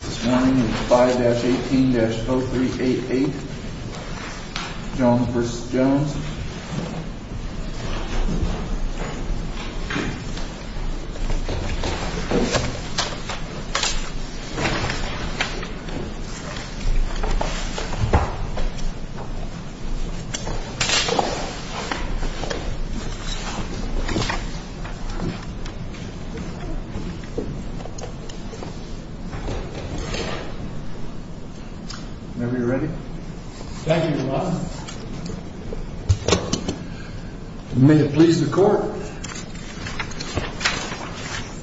This morning is 5-18-0388, Jones versus Jones. Whenever you're ready. Thank you, Your Honor. May it please the court.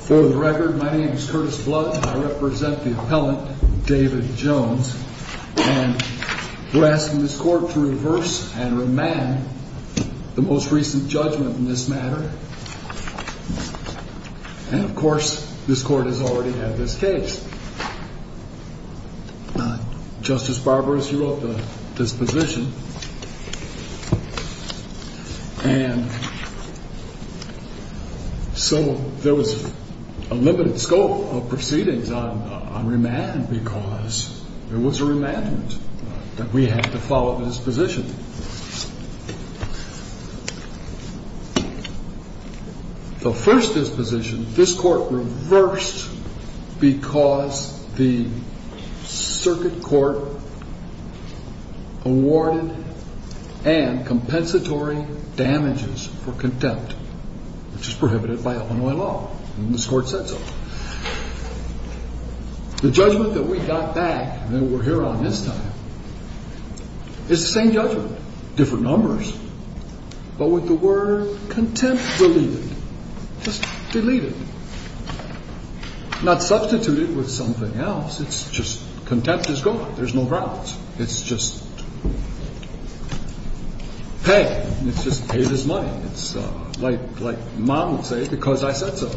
For the record, my name is Curtis Blood and I represent the appellant, David Jones. And we're asking this court to reverse and remand the most recent judgment in this matter. And of course, this court has already had this case. Justice Barber, as you wrote, the disposition. And so there was a limited scope of proceedings on remand because it was a remandment that we had to follow the disposition. The first disposition, this court reversed because the circuit court awarded an compensatory damages for contempt, which is prohibited by Illinois law. And this court said so. The judgment that we got back and that we're here on this time is the same judgment, different numbers, but with the word contempt deleted. Just delete it. Not substitute it with something else. It's just contempt is gone. There's no grounds. It's just paid. It's just paid as money. It's like mom would say, because I said so.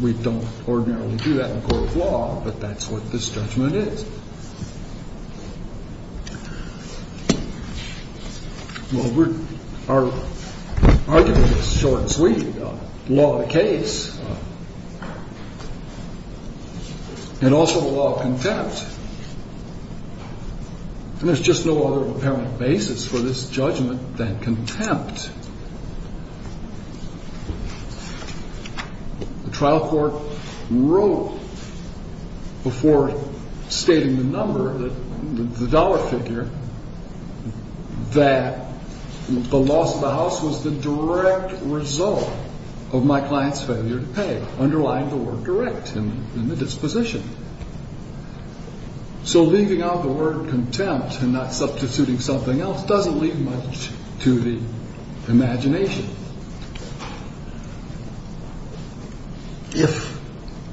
We don't ordinarily do that in court of law, but that's what this judgment is. Well, our argument is short and sweet. Law of the case. And also the law of contempt. And there's just no other apparent basis for this judgment than contempt. The trial court wrote before stating the number, the dollar figure, that the loss of the house was the direct result of my client's failure to pay, underlying the word direct in the disposition. So leaving out the word contempt and not substituting something else doesn't leave much to the imagination. If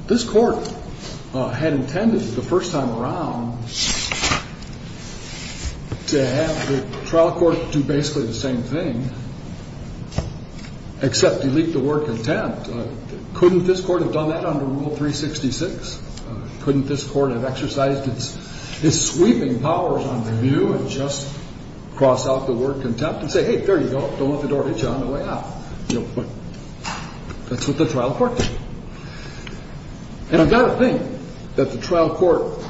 this court had intended the first time around to have the trial court do basically the same thing, except delete the word contempt, couldn't this court have done that under Rule 366? Couldn't this court have exercised its sweeping powers on review and just cross out the word contempt and say, hey, there you go. Don't let the door hit you on the way out. That's what the trial court did. And I've got to think that the trial court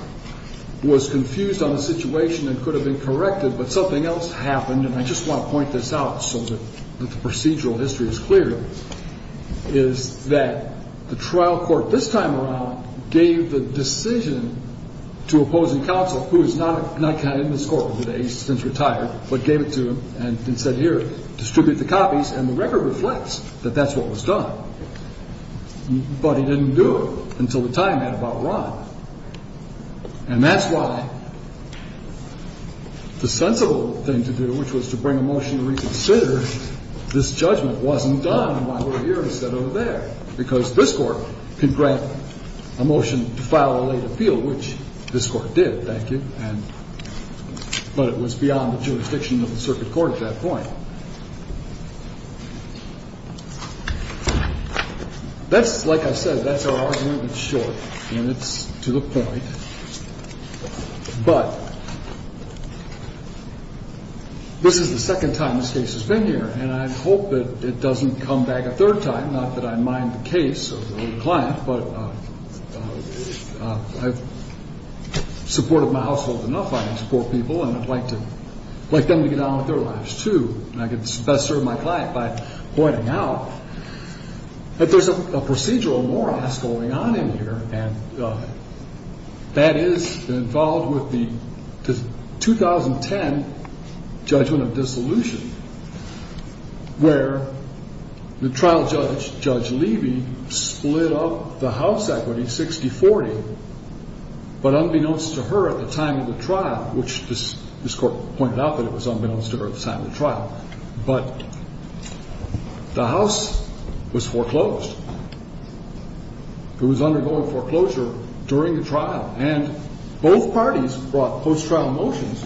was confused on the situation and could have been corrected, but something else happened, and I just want to point this out so that the procedural history is clear, is that the trial court this time around gave the decision to opposing counsel, who is not counted in this court today. He's since retired, but gave it to him and said, here, distribute the copies, and the record reflects that that's what was done. But he didn't do it until the time had about run. And that's why the sensible thing to do, which was to bring a motion to reconsider, this judgment wasn't done while we're here instead of over there, because this court could grant a motion to file a late appeal, which this court did, thank you, but it was beyond the jurisdiction of the circuit court at that point. Now, that's, like I said, that's our argument. It's short, and it's to the point, but this is the second time this case has been here, and I hope that it doesn't come back a third time, not that I mind the case of the client, but I've supported my household enough, I can support people, and I'd like them to get on with their lives, too, and I can best serve my client by pointing out that there's a procedural morass going on in here, and that is involved with the 2010 judgment of dissolution, where the trial judge, Judge Levy, split up the house equity, 60-40, but unbeknownst to her at the time of the trial, which this court pointed out that it was unbeknownst to her at the time of the trial, but the house was foreclosed. It was undergoing foreclosure during the trial, and both parties brought post-trial motions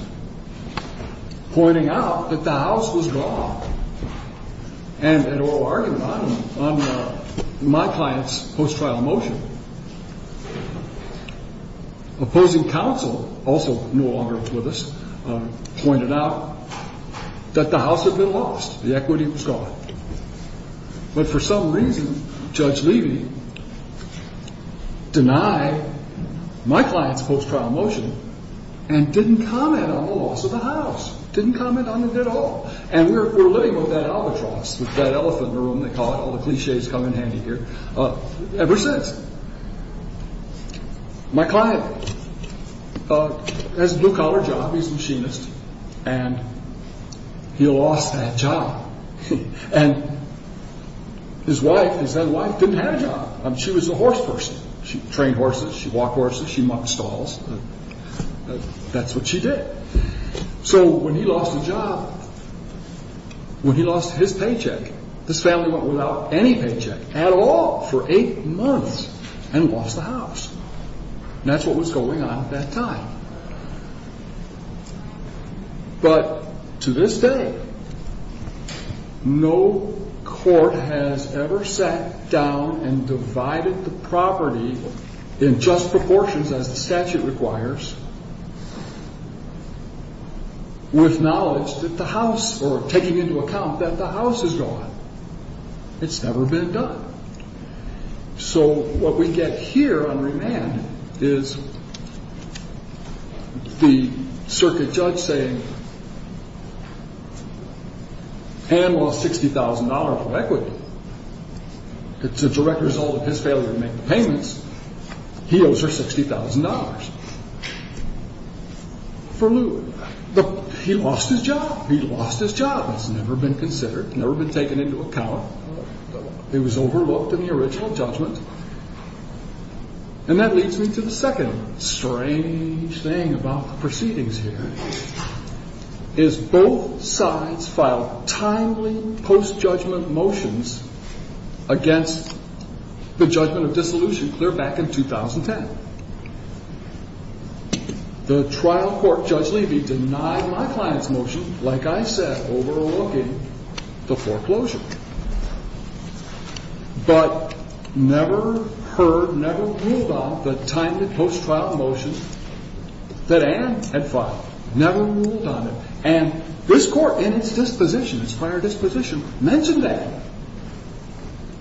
pointing out that the house was gone, and an oral argument on my client's post-trial motion. Opposing counsel, also no longer with us, pointed out that the house had been lost, the equity was gone, but for some reason, Judge Levy denied my client's post-trial motion and didn't comment on the loss of the house, didn't comment on it at all, and we're living with that albatross, with that elephant in the room, they call it, all the cliches come in handy here, ever since. My client has a blue-collar job, he's a machinist, and he lost that job. And his wife, his then-wife, didn't have a job. She was a horse person. She trained horses, she walked horses, she mucked stalls. That's what she did. So when he lost the job, when he lost his paycheck, this family went without any paycheck at all for eight months and lost the house. And that's what was going on at that time. But to this day, no court has ever sat down and divided the property in just proportions as the statute requires, with knowledge that the house, or taking into account that the house is gone. It's never been done. So what we get here on remand is the circuit judge saying Ann lost $60,000 for equity. It's a direct result of his failure to make the payments. He owes her $60,000 for lewd. He lost his job. He lost his job. It's never been considered, never been taken into account. It was overlooked in the original judgment. And that leads me to the second strange thing about the proceedings here, is both sides filed timely post-judgment motions against the judgment of dissolution clear back in 2010. The trial court, Judge Levy, denied my client's motion, like I said, overlooking the foreclosure, but never heard, never ruled on the timely post-trial motion that Ann had filed. Never ruled on it. And this court, in its disposition, its prior disposition, mentioned that.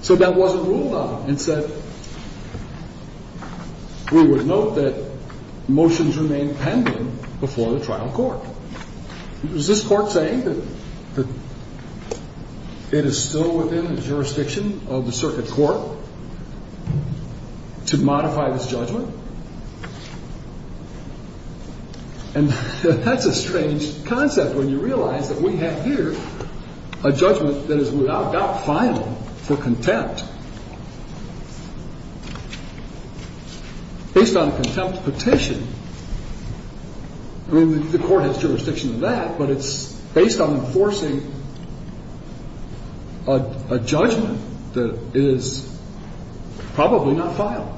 So that wasn't ruled on. It said we would note that motions remain pending before the trial court. Is this court saying that it is still within the jurisdiction of the circuit court to modify this judgment? And that's a strange concept when you realize that we have here a judgment that is without doubt final for contempt. Based on contempt petition, I mean, the court has jurisdiction of that, but it's based on enforcing a judgment that is probably not final.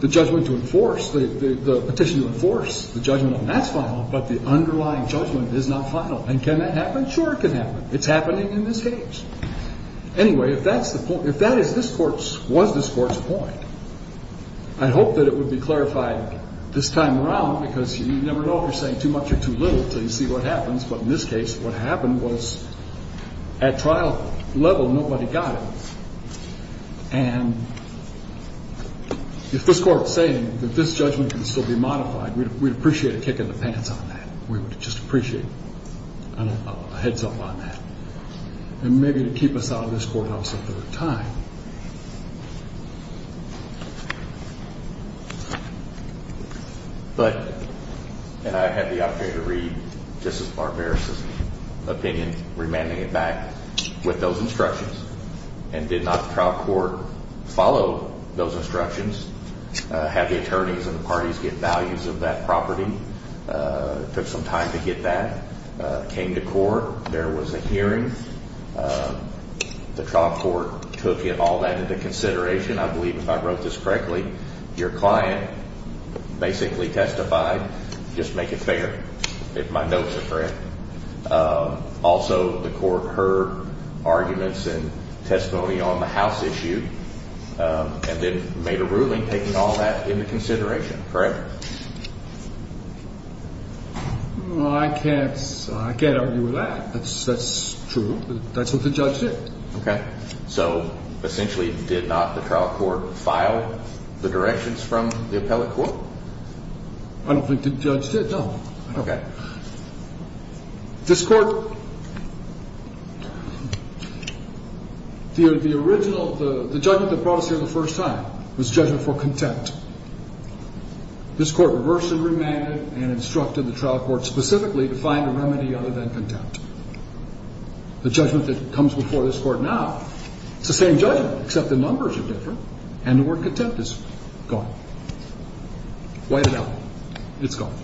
The judgment to enforce, the petition to enforce the judgment on that's final, but the underlying judgment is not final. And can that happen? Sure, it can happen. It's happening in this case. Anyway, if that's the point, if that is this court's, was this court's point, I hope that it would be clarified this time around, because you never know if you're saying too much or too little until you see what happens. But in this case, what happened was at trial level, nobody got it. And if this court is saying that this judgment can still be modified, we'd appreciate a kick in the pants on that. We would just appreciate a heads up on that. And maybe to keep us out of this courthouse a third time. But, and I had the opportunity to read Justice Barbaros' opinion, remanding it back with those instructions, and did not the trial court follow those instructions, have the attorneys and the parties get values of that property, took some time to get that, came to court, there was a hearing, the trial court took all that into consideration. I believe, if I wrote this correctly, your client basically testified, just to make it fair, if my notes are correct. Also, the court heard arguments and testimony on the house issue, and then made a ruling taking all that into consideration, correct? Well, I can't argue with that. That's true. That's what the judge did. Okay. So, essentially, did not the trial court file the directions from the appellate court? I don't think the judge did, no. Okay. This court, the original, the judgment that brought us here the first time was judgment for contempt. This court reversed and remanded and instructed the trial court specifically to find a remedy other than contempt. The judgment that comes before this court now, it's the same judgment, except the numbers are different and the word contempt is gone. Wiped out. It's gone.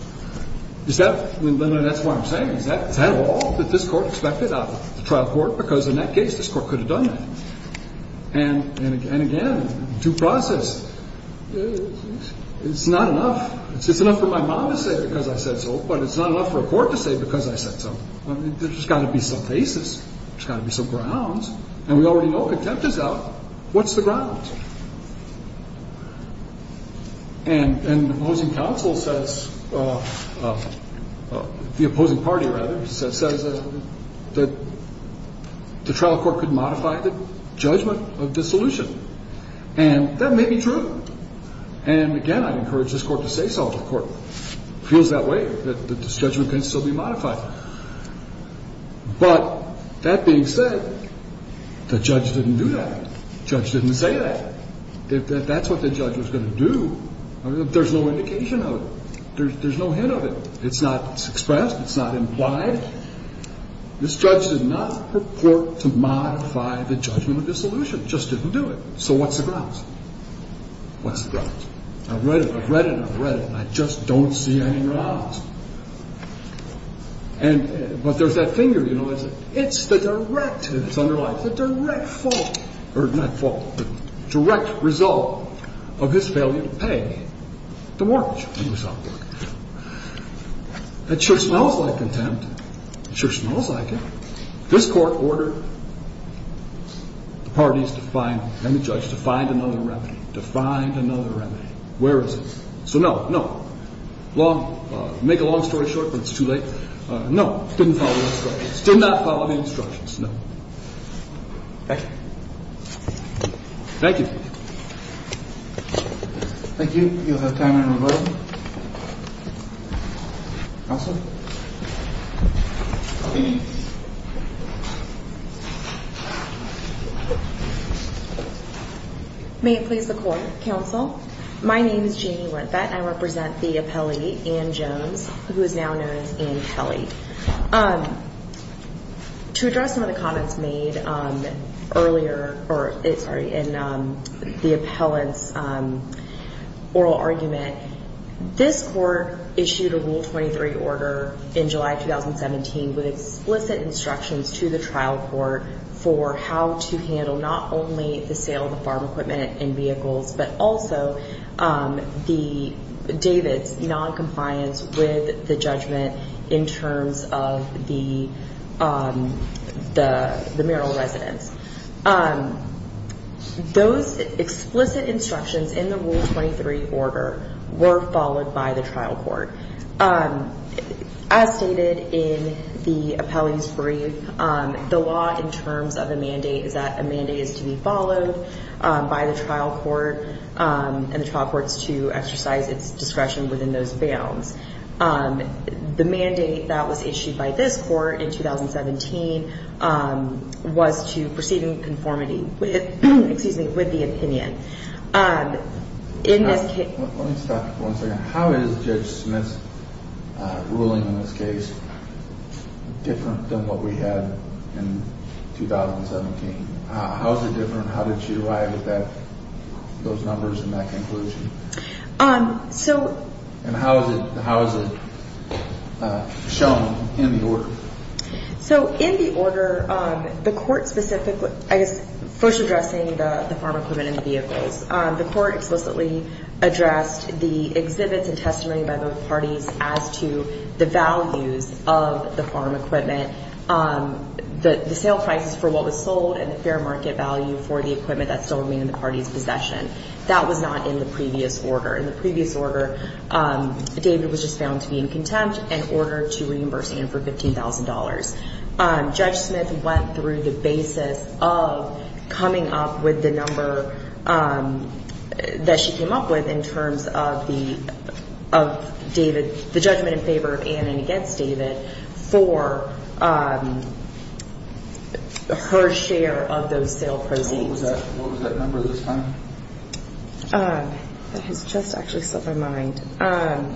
That's what I'm saying. Is that at all that this court expected out of the trial court? Because, in that case, this court could have done that. And, again, due process, it's not enough. It's enough for my mom to say because I said so, but it's not enough for a court to say because I said so. There's got to be some basis. There's got to be some grounds. And we already know contempt is out. What's the ground? And the opposing counsel says, the opposing party, rather, says that the trial court could modify the judgment of dissolution. And that may be true. And, again, I'd encourage this court to say so. The court feels that way, that this judgment can still be modified. But that being said, the judge didn't do that. The judge didn't say that. That's what the judge was going to do. There's no indication of it. There's no hint of it. It's not expressed. It's not implied. This judge did not purport to modify the judgment of dissolution. Just didn't do it. So what's the grounds? What's the grounds? I've read it. I've read it. I've read it. And I just don't see any grounds. But there's that finger. It's the direct. It's underlined. It's the direct fault. Or not fault, but direct result of his failure to pay the mortgage he was on. That sure smells like contempt. It sure smells like it. This court ordered the parties to find, and the judge, to find another remedy, to find another remedy. Where is it? So no, no. Make a long story short, but it's too late. No, didn't follow the instructions. Did not follow the instructions. No. Thank you. Thank you. Thank you. You'll have time in a moment. Counsel? May it please the court. Counsel, my name is Jeanne Lenthat, and I represent the appellee, Ann Jones, who is now known as Ann Kelly. To address some of the comments made earlier in the appellant's oral argument, this court issued a Rule 23 order in July 2017 with explicit instructions to the trial court for how to handle not only the sale of the farm equipment and in terms of the marital residence. Those explicit instructions in the Rule 23 order were followed by the trial court. As stated in the appellee's brief, the law in terms of a mandate is that a mandate is to be followed by the trial court and the trial court is to exercise its discretion within those bounds. The mandate that was issued by this court in 2017 was to proceed in conformity with the opinion. Let me stop for one second. How is Judge Smith's ruling in this case different than what we had in 2017? How is it different? How did she arrive at those numbers and that conclusion? And how is it shown in the order? In the order, the court specifically, I guess first addressing the farm equipment and the vehicles, the court explicitly addressed the exhibits and testimony by both parties as to the values of the farm equipment, the sale prices for what was sold and the fair market value for the equipment that still remained in the party's possession. That was not in the previous order. In the previous order, David was just found to be in contempt and ordered to reimburse Ann for $15,000. Judge Smith went through the basis of coming up with the number that she came up with in terms of the judgment in favor of Ann and against David for her share of those sale proceeds. What was that number this time? That has just actually slipped my mind. I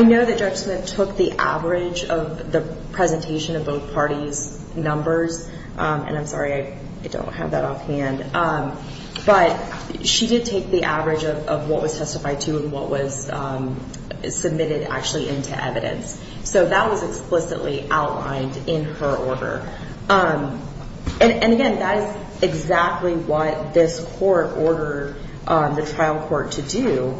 know that Judge Smith took the average of the presentation of both parties' numbers, and I'm sorry, I don't have that offhand. But she did take the average of what was testified to and what was submitted actually into evidence. So that was explicitly outlined in her order. And, again, that is exactly what this court ordered the trial court to do.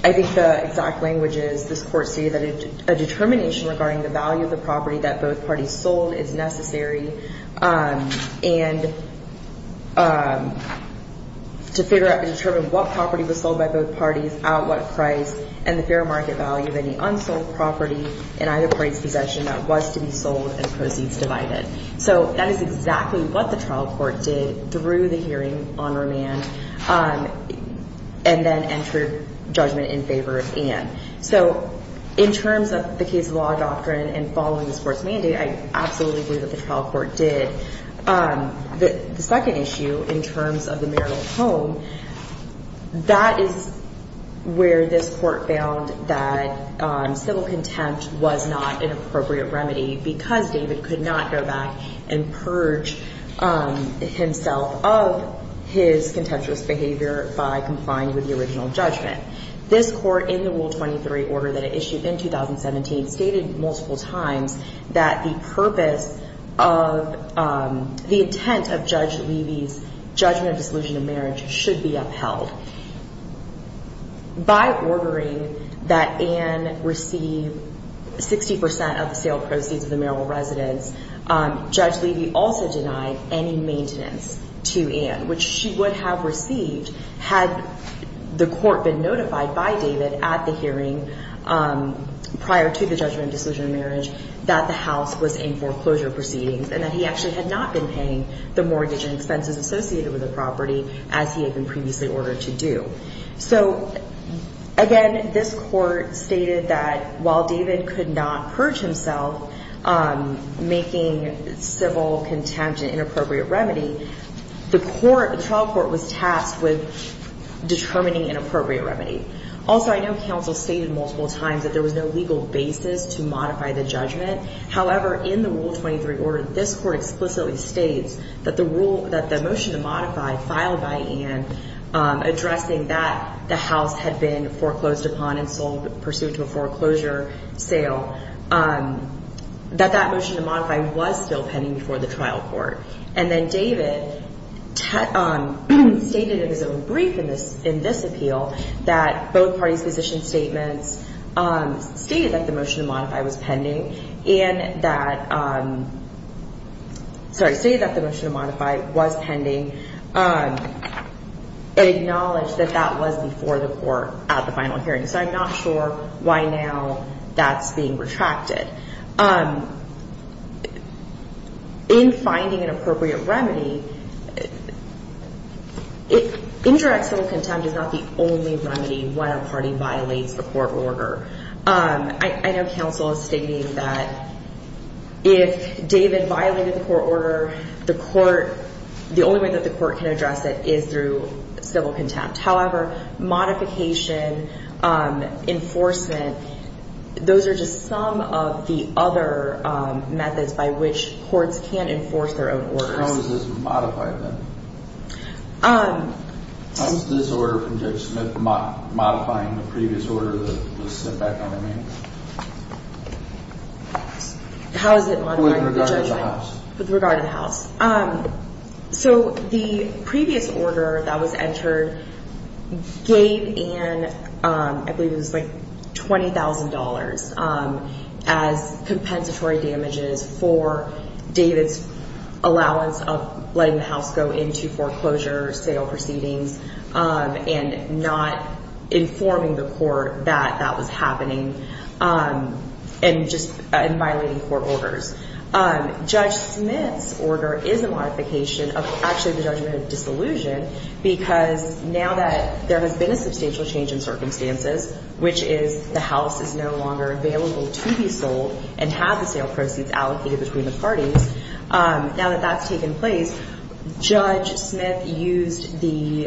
I think the exact language is this court stated that a determination regarding the value of the property that both parties sold is necessary and to figure out and determine what property was sold by both parties, at what price, and the fair market value of any unsold property in either party's possession that was to be sold and proceeds divided. So that is exactly what the trial court did through the hearing on remand and then entered judgment in favor of Ann. So in terms of the case law doctrine and following this court's mandate, I absolutely believe that the trial court did. The second issue in terms of the marital home, that is where this court found that civil contempt was not an appropriate remedy because David could not go back and purge himself of his contemptuous behavior by complying with the original judgment. This court, in the Rule 23 order that it issued in 2017, stated multiple times that the purpose of the intent of Judge Levy's judgment of dissolution of marriage should be upheld. By ordering that Ann receive 60% of the sale proceeds of the marital residence, Judge Levy also denied any maintenance to Ann, which she would have received had the court been notified by David at the hearing prior to the judgment of dissolution of marriage that the house was in foreclosure proceedings and that he actually had not been paying the mortgage and expenses associated with the property as he had been previously ordered to do. So, again, this court stated that while David could not purge himself, making civil contempt an inappropriate remedy, the trial court was tasked with determining an appropriate remedy. Also, I know counsel stated multiple times that there was no legal basis to modify the judgment. However, in the Rule 23 order, this court explicitly states that the motion to modify, filed by Ann, addressing that the house had been foreclosed upon and sold pursuant to a foreclosure sale, that that motion to modify was still pending before the trial court. And then David stated in his own brief in this appeal that both parties' position statements stated that the motion to modify was pending and that, sorry, stated that the motion to modify was pending and acknowledged that that was before the court at the final hearing. So I'm not sure why now that's being retracted. In finding an appropriate remedy, inter-external contempt is not the only remedy when a party violates the court order. I know counsel is stating that if David violated the court order, the only way that the court can address it is through civil contempt. However, modification, enforcement, those are just some of the other methods by which courts can enforce their own orders. How was this modified then? How is this order from Judge Smith modifying the previous order that was sent back on to me? How is it modifying the previous order? With regard to the house. With regard to the house. So the previous order that was entered gave Ann, I believe it was like $20,000, as compensatory damages for David's allowance of letting the house go into foreclosure sale proceedings and not informing the court that that was happening and just violating court orders. Judge Smith's order is a modification of actually the judgment of disillusion because now that there has been a substantial change in circumstances, which is the house is no longer available to be sold and have the sale proceeds allocated between the parties, now that that's taken place, Judge Smith used the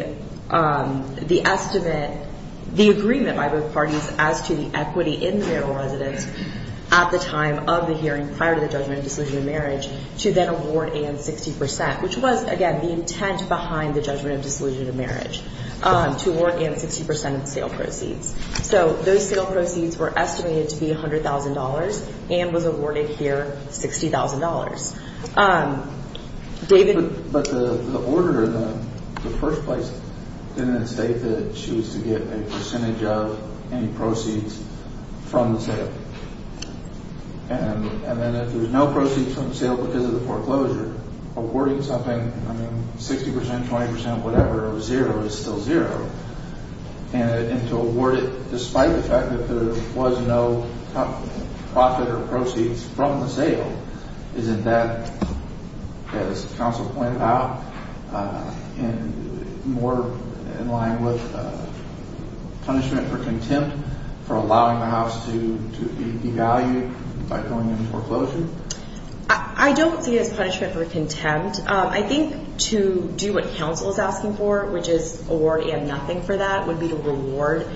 estimate, the agreement by both parties as to the equity in the marital residence at the time of the hearing prior to the judgment of disillusion of marriage to then award Ann 60%, which was, again, the intent behind the judgment of disillusion of marriage, to award Ann 60% of the sale proceeds. So those sale proceeds were estimated to be $100,000. Ann was awarded here $60,000. David? But the order in the first place didn't state that she was to get a percentage of any proceeds from the sale. And then if there's no proceeds from the sale because of the foreclosure, I mean, 60%, 20%, whatever, zero is still zero, and to award it despite the fact that there was no profit or proceeds from the sale, isn't that, as counsel pointed out, more in line with punishment for contempt for allowing the house to be devalued by going into foreclosure? I don't see it as punishment for contempt. I think to do what counsel is asking for, which is award Ann nothing for that, would be to reward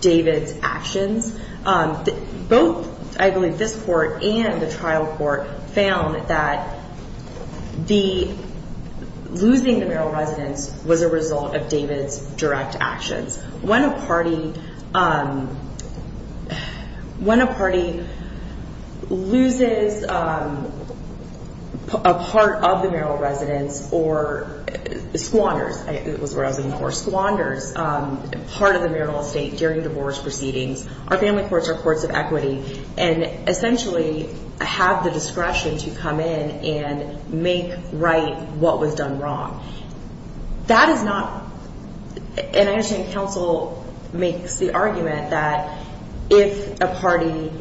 David's actions. Both, I believe, this court and the trial court found that losing the marital residence was a result of David's direct actions. When a party loses a part of the marital residence or squanders part of the marital estate during divorce proceedings, our family courts are courts of equity and essentially have the discretion to come in and make right what was done wrong. That is not, and I understand counsel makes the argument that if a party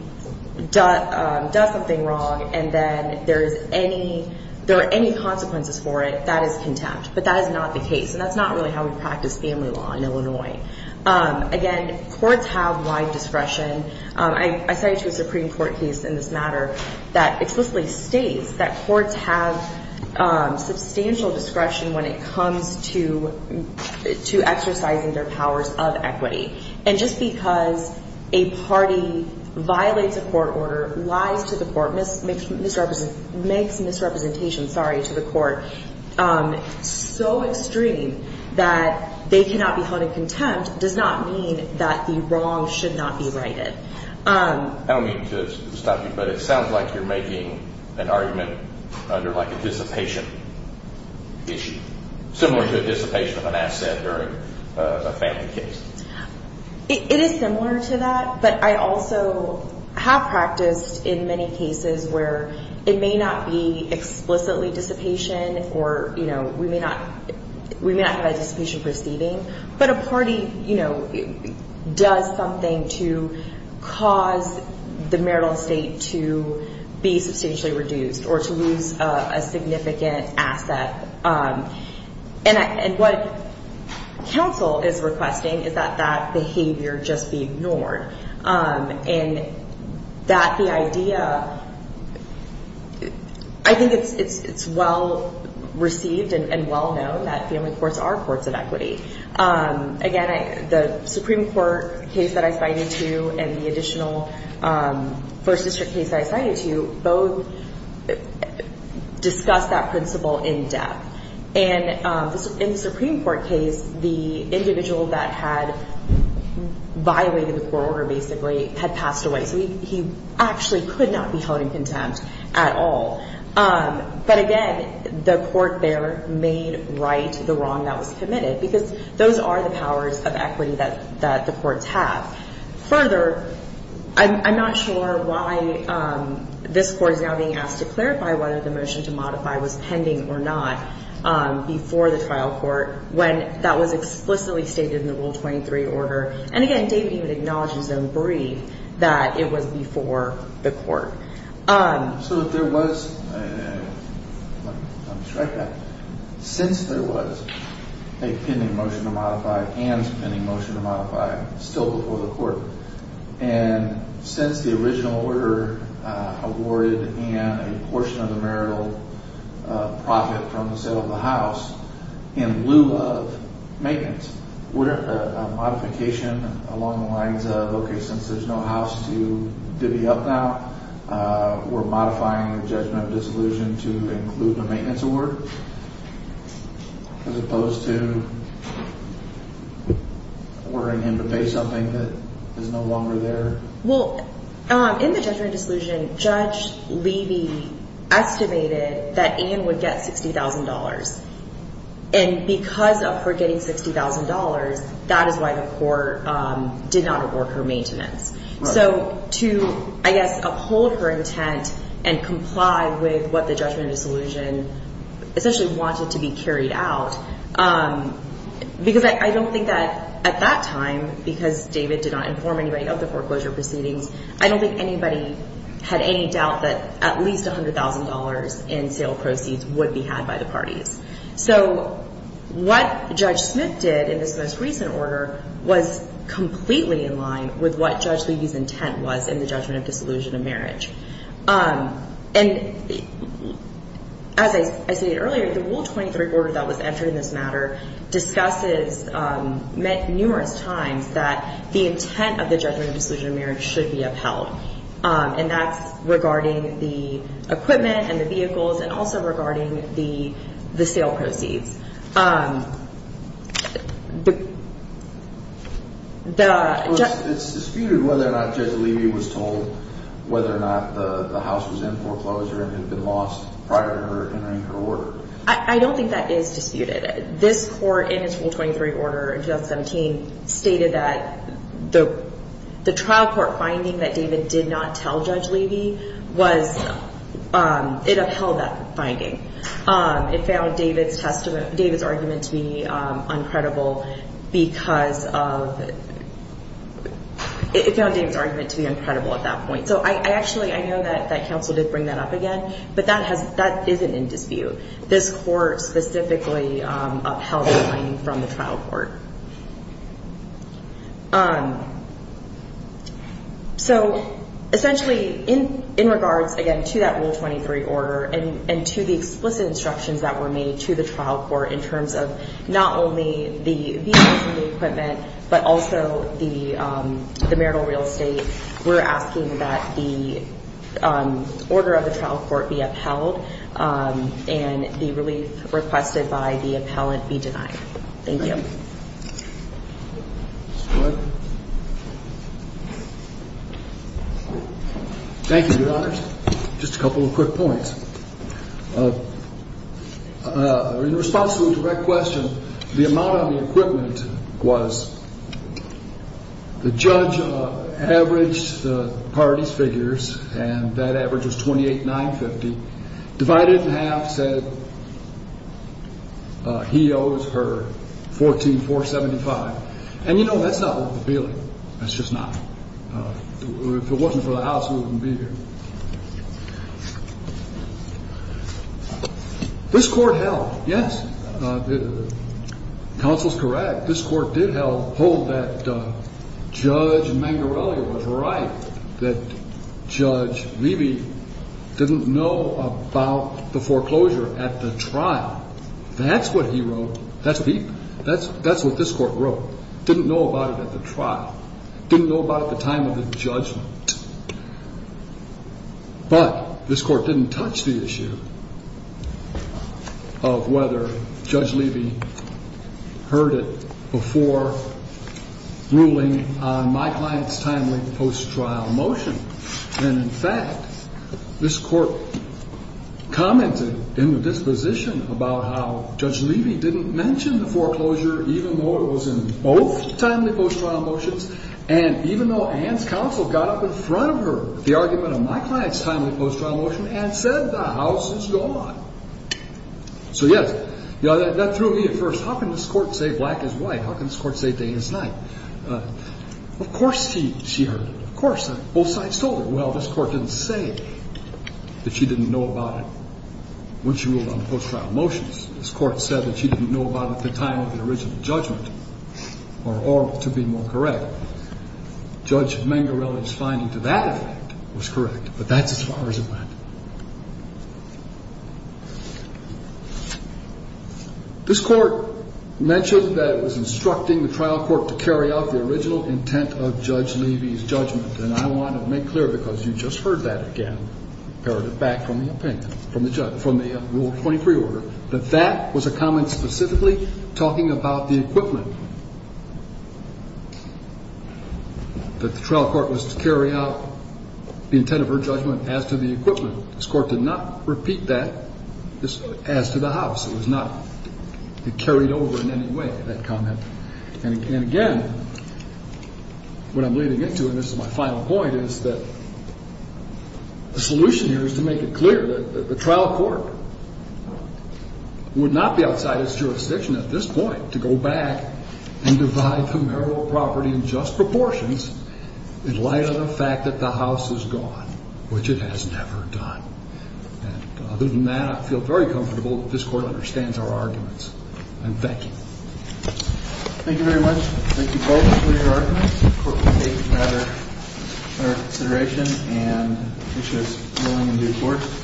does something wrong and then there are any consequences for it, that is contempt, but that is not the case, and that's not really how we practice family law in Illinois. Again, courts have wide discretion. I cited a Supreme Court case in this matter that explicitly states that courts have substantial discretion when it comes to exercising their powers of equity, and just because a party violates a court order, lies to the court, makes misrepresentation, sorry, to the court so extreme that they cannot be held in contempt does not mean that the wrong should not be righted. I don't mean to stop you, but it sounds like you're making an argument under like a dissipation issue, similar to a dissipation of an asset during a family case. It is similar to that, but I also have practiced in many cases where it may not be explicitly dissipation or we may not have a dissipation proceeding, but a party, you know, does something to cause the marital estate to be substantially reduced or to lose a significant asset, and what counsel is requesting is that that behavior just be ignored, and that the idea, I think it's well-received and well-known that family courts are courts of equity. Again, the Supreme Court case that I cited to and the additional First District case that I cited to both discussed that principle in depth, and in the Supreme Court case, the individual that had violated the court order basically had passed away, so he actually could not be held in contempt at all. But again, the court there made right the wrong that was committed, because those are the powers of equity that the courts have. Further, I'm not sure why this court is now being asked to clarify whether the motion to modify was pending or not before the trial court, when that was explicitly stated in the Rule 23 order, and again, David even acknowledges and agreed that it was before the court. So if there was – let me just write that – since there was a pending motion to modify and a pending motion to modify still before the court, and since the original order awarded Anne a portion of the marital profit from the sale of the house in lieu of maintenance, wouldn't a modification along the lines of, okay, since there's no house to divvy up now, we're modifying the judgment of disillusion to include the maintenance award as opposed to ordering him to pay something that is no longer there? Well, in the judgment of disillusion, Judge Levy estimated that Anne would get $60,000, and because of her getting $60,000, that is why the court did not award her maintenance. So to, I guess, uphold her intent and comply with what the judgment of disillusion essentially wanted to be carried out, because I don't think that at that time, because David did not inform anybody of the foreclosure proceedings, I don't think anybody had any doubt that at least $100,000 in sale proceeds would be had by the parties. So what Judge Smith did in this most recent order was completely in line with what Judge Levy's intent was in the judgment of disillusion of marriage. And as I stated earlier, the Rule 23 order that was entered in this matter discusses numerous times that the intent of the judgment of disillusion of marriage should be upheld, and that's regarding the equipment and the vehicles and also regarding the sale proceeds. It's disputed whether or not Judge Levy was told whether or not the house was in foreclosure and had been lost prior to her entering her order. I don't think that is disputed. This court in its Rule 23 order in 2017 stated that the trial court finding that David did not tell Judge Levy was, it upheld that finding. It found David's argument to be uncredible at that point. So actually, I know that counsel did bring that up again, but that isn't in dispute. This court specifically upheld the finding from the trial court. So essentially, in regards, again, to that Rule 23 order and to the explicit instructions that were made to the trial court in terms of not only the vehicles and the equipment, but also the marital real estate, we're asking that the order of the trial court be upheld and the relief requested by the appellant be denied. Thank you. Thank you, Your Honors. Just a couple of quick points. In response to a direct question, the amount of the equipment was the judge averaged the parties' figures, and that average was $28,950, divided in half, said he owes her $14,475. And, you know, that's not worth appealing. That's just not. If it wasn't for the House, we wouldn't be here. This court held, yes, counsel's correct. This court did hold that Judge Mangarelli was right, that Judge Levy didn't know about the foreclosure at the trial. That's what he wrote. That's what this court wrote. Didn't know about it at the trial. Didn't know about it at the time of the judgment. But this court didn't touch the issue of whether Judge Levy heard it before ruling on my client's timely post-trial motion. And, in fact, this court commented in the disposition about how Judge Levy didn't mention the foreclosure, even though it was in both timely post-trial motions, and even though Anne's counsel got up in front of her with the argument of my client's timely post-trial motion and said the House is gone. So, yes, that threw me at first. How can this court say black is white? How can this court say day is night? Of course she heard it. Of course. Both sides told her. Well, this court didn't say that she didn't know about it when she ruled on the post-trial motions. This court said that she didn't know about it at the time of the original judgment, or, to be more correct, Judge Mangarelli's finding to that effect was correct. But that's as far as it went. This court mentioned that it was instructing the trial court to carry out the original intent of Judge Levy's judgment. And I want to make clear, because you just heard that again, back from the opinion, from the rule 23 order, that that was a comment specifically talking about the equipment, that the trial court was to carry out the intent of her judgment as to the equipment. This court did not repeat that as to the House. It was not carried over in any way, that comment. And, again, what I'm leading into, and this is my final point, is that the solution here is to make it clear that the trial court would not be outside its jurisdiction at this point to go back and divide the marital property in just proportions in light of the fact that the House is gone, which it has never done. And other than that, I feel very comfortable that this court understands our arguments. And thank you. Thank you very much. Thank you both for your arguments. The court will take that into consideration and issue its ruling in due course.